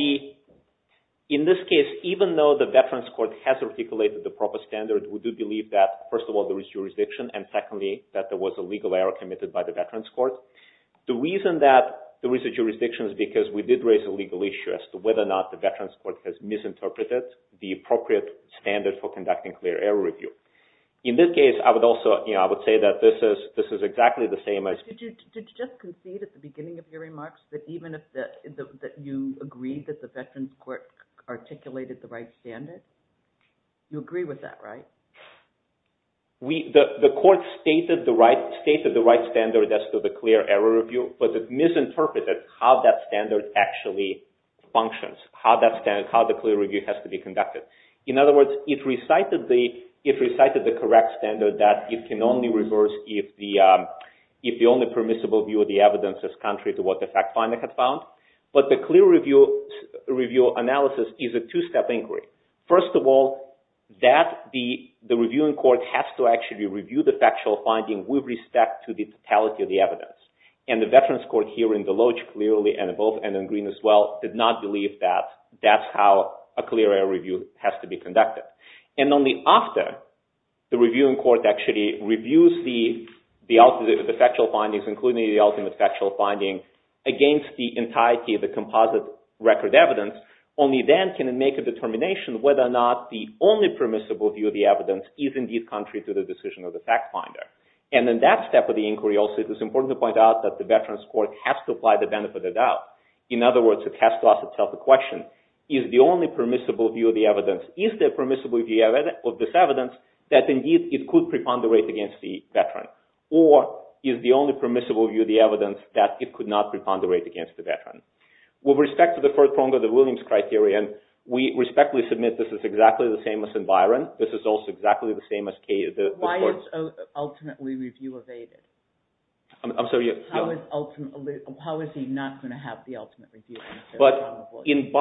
in this case, even though the Veterans Court has articulated the proper standard, we do believe that, first of all, there is jurisdiction, and secondly, that there was a legal error committed by the Veterans Court. The reason that there is a jurisdiction is because we did raise a legal issue as to whether or not the Veterans Court has misinterpreted the appropriate standard for conducting clear error review. In this case, I would also say that this is exactly the same as— Did you just concede at the beginning of your remarks that even if you agreed that the Veterans Court articulated the right standard? You agree with that, right? The court stated the right standard as to the clear error review, but it misinterpreted how that standard actually functions, how the clear review has to be conducted. In other words, it recited the correct standard that it can only reverse if the only permissible view of the evidence is contrary to what the fact finding had found. But the clear review analysis is a two-step inquiry. First of all, the reviewing court has to actually review the factual finding with respect to the totality of the evidence. And the Veterans Court, here in Deloge clearly, and in both, and in Green as well, did not believe that that's how a clear error review has to be conducted. And only after the reviewing court actually reviews the factual findings, including the ultimate factual finding, against the entirety of the composite record evidence, only then can it make a determination whether or not the only permissible view of the evidence is indeed contrary to the decision of the fact finder. And in that step of the inquiry also, it is important to point out that the Veterans Court has to apply the benefit of doubt. In other words, it has to ask itself the question, is the only permissible view of the evidence, is there permissible view of this evidence, that indeed it could preponderate against the veteran? Or is the only permissible view of the evidence that it could not preponderate against the veteran? With respect to the third prong of the Williams Criterion, we respectfully submit this is exactly the same as in Byron. This is also exactly the same as the court's... Why is ultimately review evaded? I'm sorry, yeah. How is ultimately... How is he not going to have the ultimate review? But in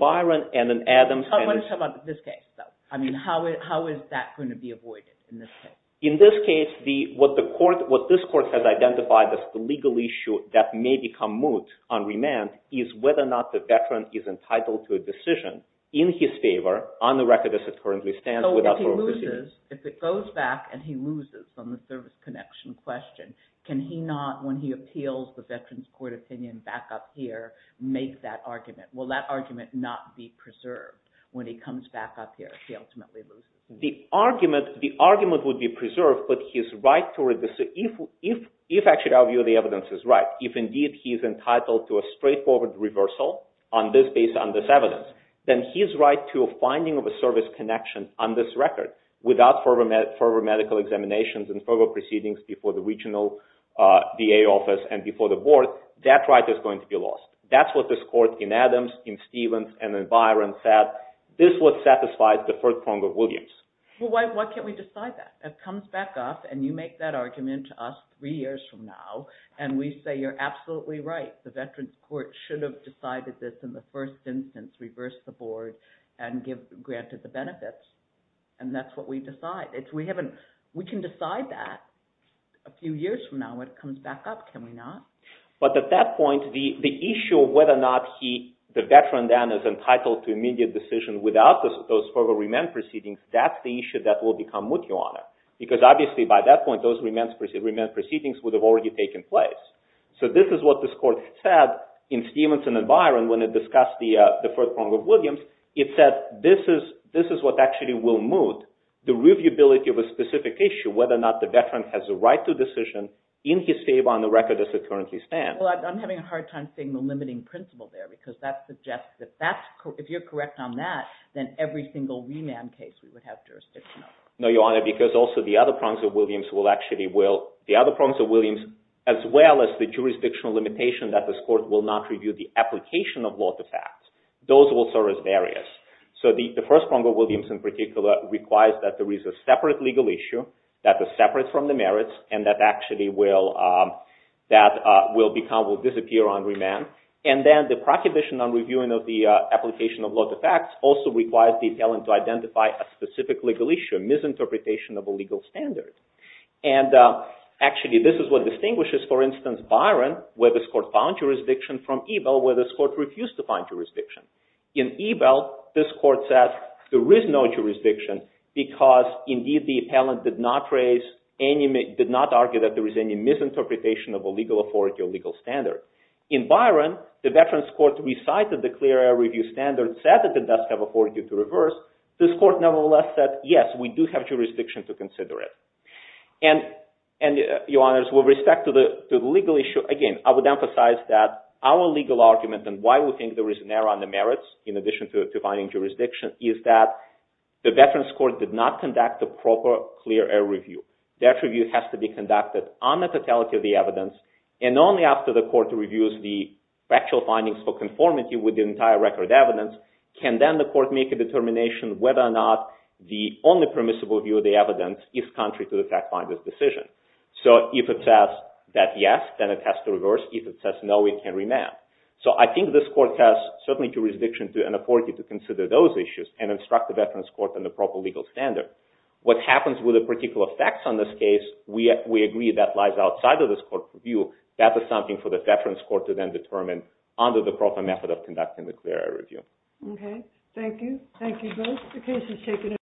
Byron and in Adams... I want to talk about this case, though. I mean, how is that going to be avoided in this case? In this case, what this court has identified as the legal issue that may become moot on remand is whether or not the veteran is entitled to a decision in his favor on the record as it currently stands... So if he loses, if it goes back and he loses on the service connection question, can he not, when he appeals the Veterans Court opinion back up here, make that argument? Will that argument not be preserved when he comes back up here if he ultimately loses? The argument would be preserved, but his right to... So if actually our view of the evidence is right, if indeed he's entitled to a straightforward reversal on this basis, on this evidence, then his right to a finding of a service connection on this record without further medical examinations and further proceedings before the regional VA office and before the board, that right is going to be lost. That's what this court in Adams, in Stevens, and in Byron said. This would satisfy the first prong of Williams. Well, why can't we decide that? It comes back up, and you make that argument to us 3 years from now, and we say you're absolutely right. The Veterans Court should have decided this in the first instance, reversed the board, and granted the benefits. And that's what we decide. We can decide that a few years from now when it comes back up, can we not? But at that point, the issue of whether or not the veteran then is entitled to immediate decision without those further remand proceedings, that's the issue that will become much longer. Because obviously by that point, those remand proceedings would have already taken place. So this is what this court said in Stevens and in Byron when it discussed the first prong of Williams. It said this is what actually will move the reviewability of a specific issue, whether or not the veteran has a right to a decision in his favor on the record as it currently stands. Well, I'm having a hard time seeing the limiting principle there because that suggests that if you're correct on that, then every single remand case we would have jurisdiction over. No, Your Honor, because also the other prongs of Williams will actually will, the other prongs of Williams, as well as the jurisdictional limitation that this court will not review the application of law to facts, those will serve as barriers. So the first prong of Williams in particular requires that there is a separate legal issue that is separate from the merits and that actually will disappear on remand. And then the prohibition on reviewing the application of law to facts also requires the appellant to identify a specific legal issue, a misinterpretation of a legal standard. And actually this is what distinguishes, for instance, Byron, where this court found jurisdiction, from Ebell, where this court refused to find jurisdiction. In Ebell, this court said there is no jurisdiction because indeed the appellant did not raise, did not argue that there is any misinterpretation of a legal authority or legal standard. In Byron, the Veterans Court recited the clear air review standard, said that it does have authority to reverse. This court, nevertheless, said, yes, we do have jurisdiction to consider it. And, Your Honors, with respect to the legal issue, again, I would emphasize that our legal argument and why we think there is an error on the merits, in addition to finding jurisdiction, is that the Veterans Court did not conduct a proper clear air review. That review has to be conducted on the totality of the evidence and only after the court reviews the factual findings for conformity with the entire record of evidence can then the court make a determination whether or not the only permissible view of the evidence is contrary to the fact finder's decision. So if it says that yes, then it has to reverse. If it says no, it can remand. So I think this court has certainly jurisdiction and authority to consider those issues and instruct the Veterans Court on the proper legal standard. What happens with the particular facts on this case, we agree that lies outside of this court's view. That is something for the Veterans Court to then determine under the proper method of conducting the clear air review. Okay. Thank you. Thank you both.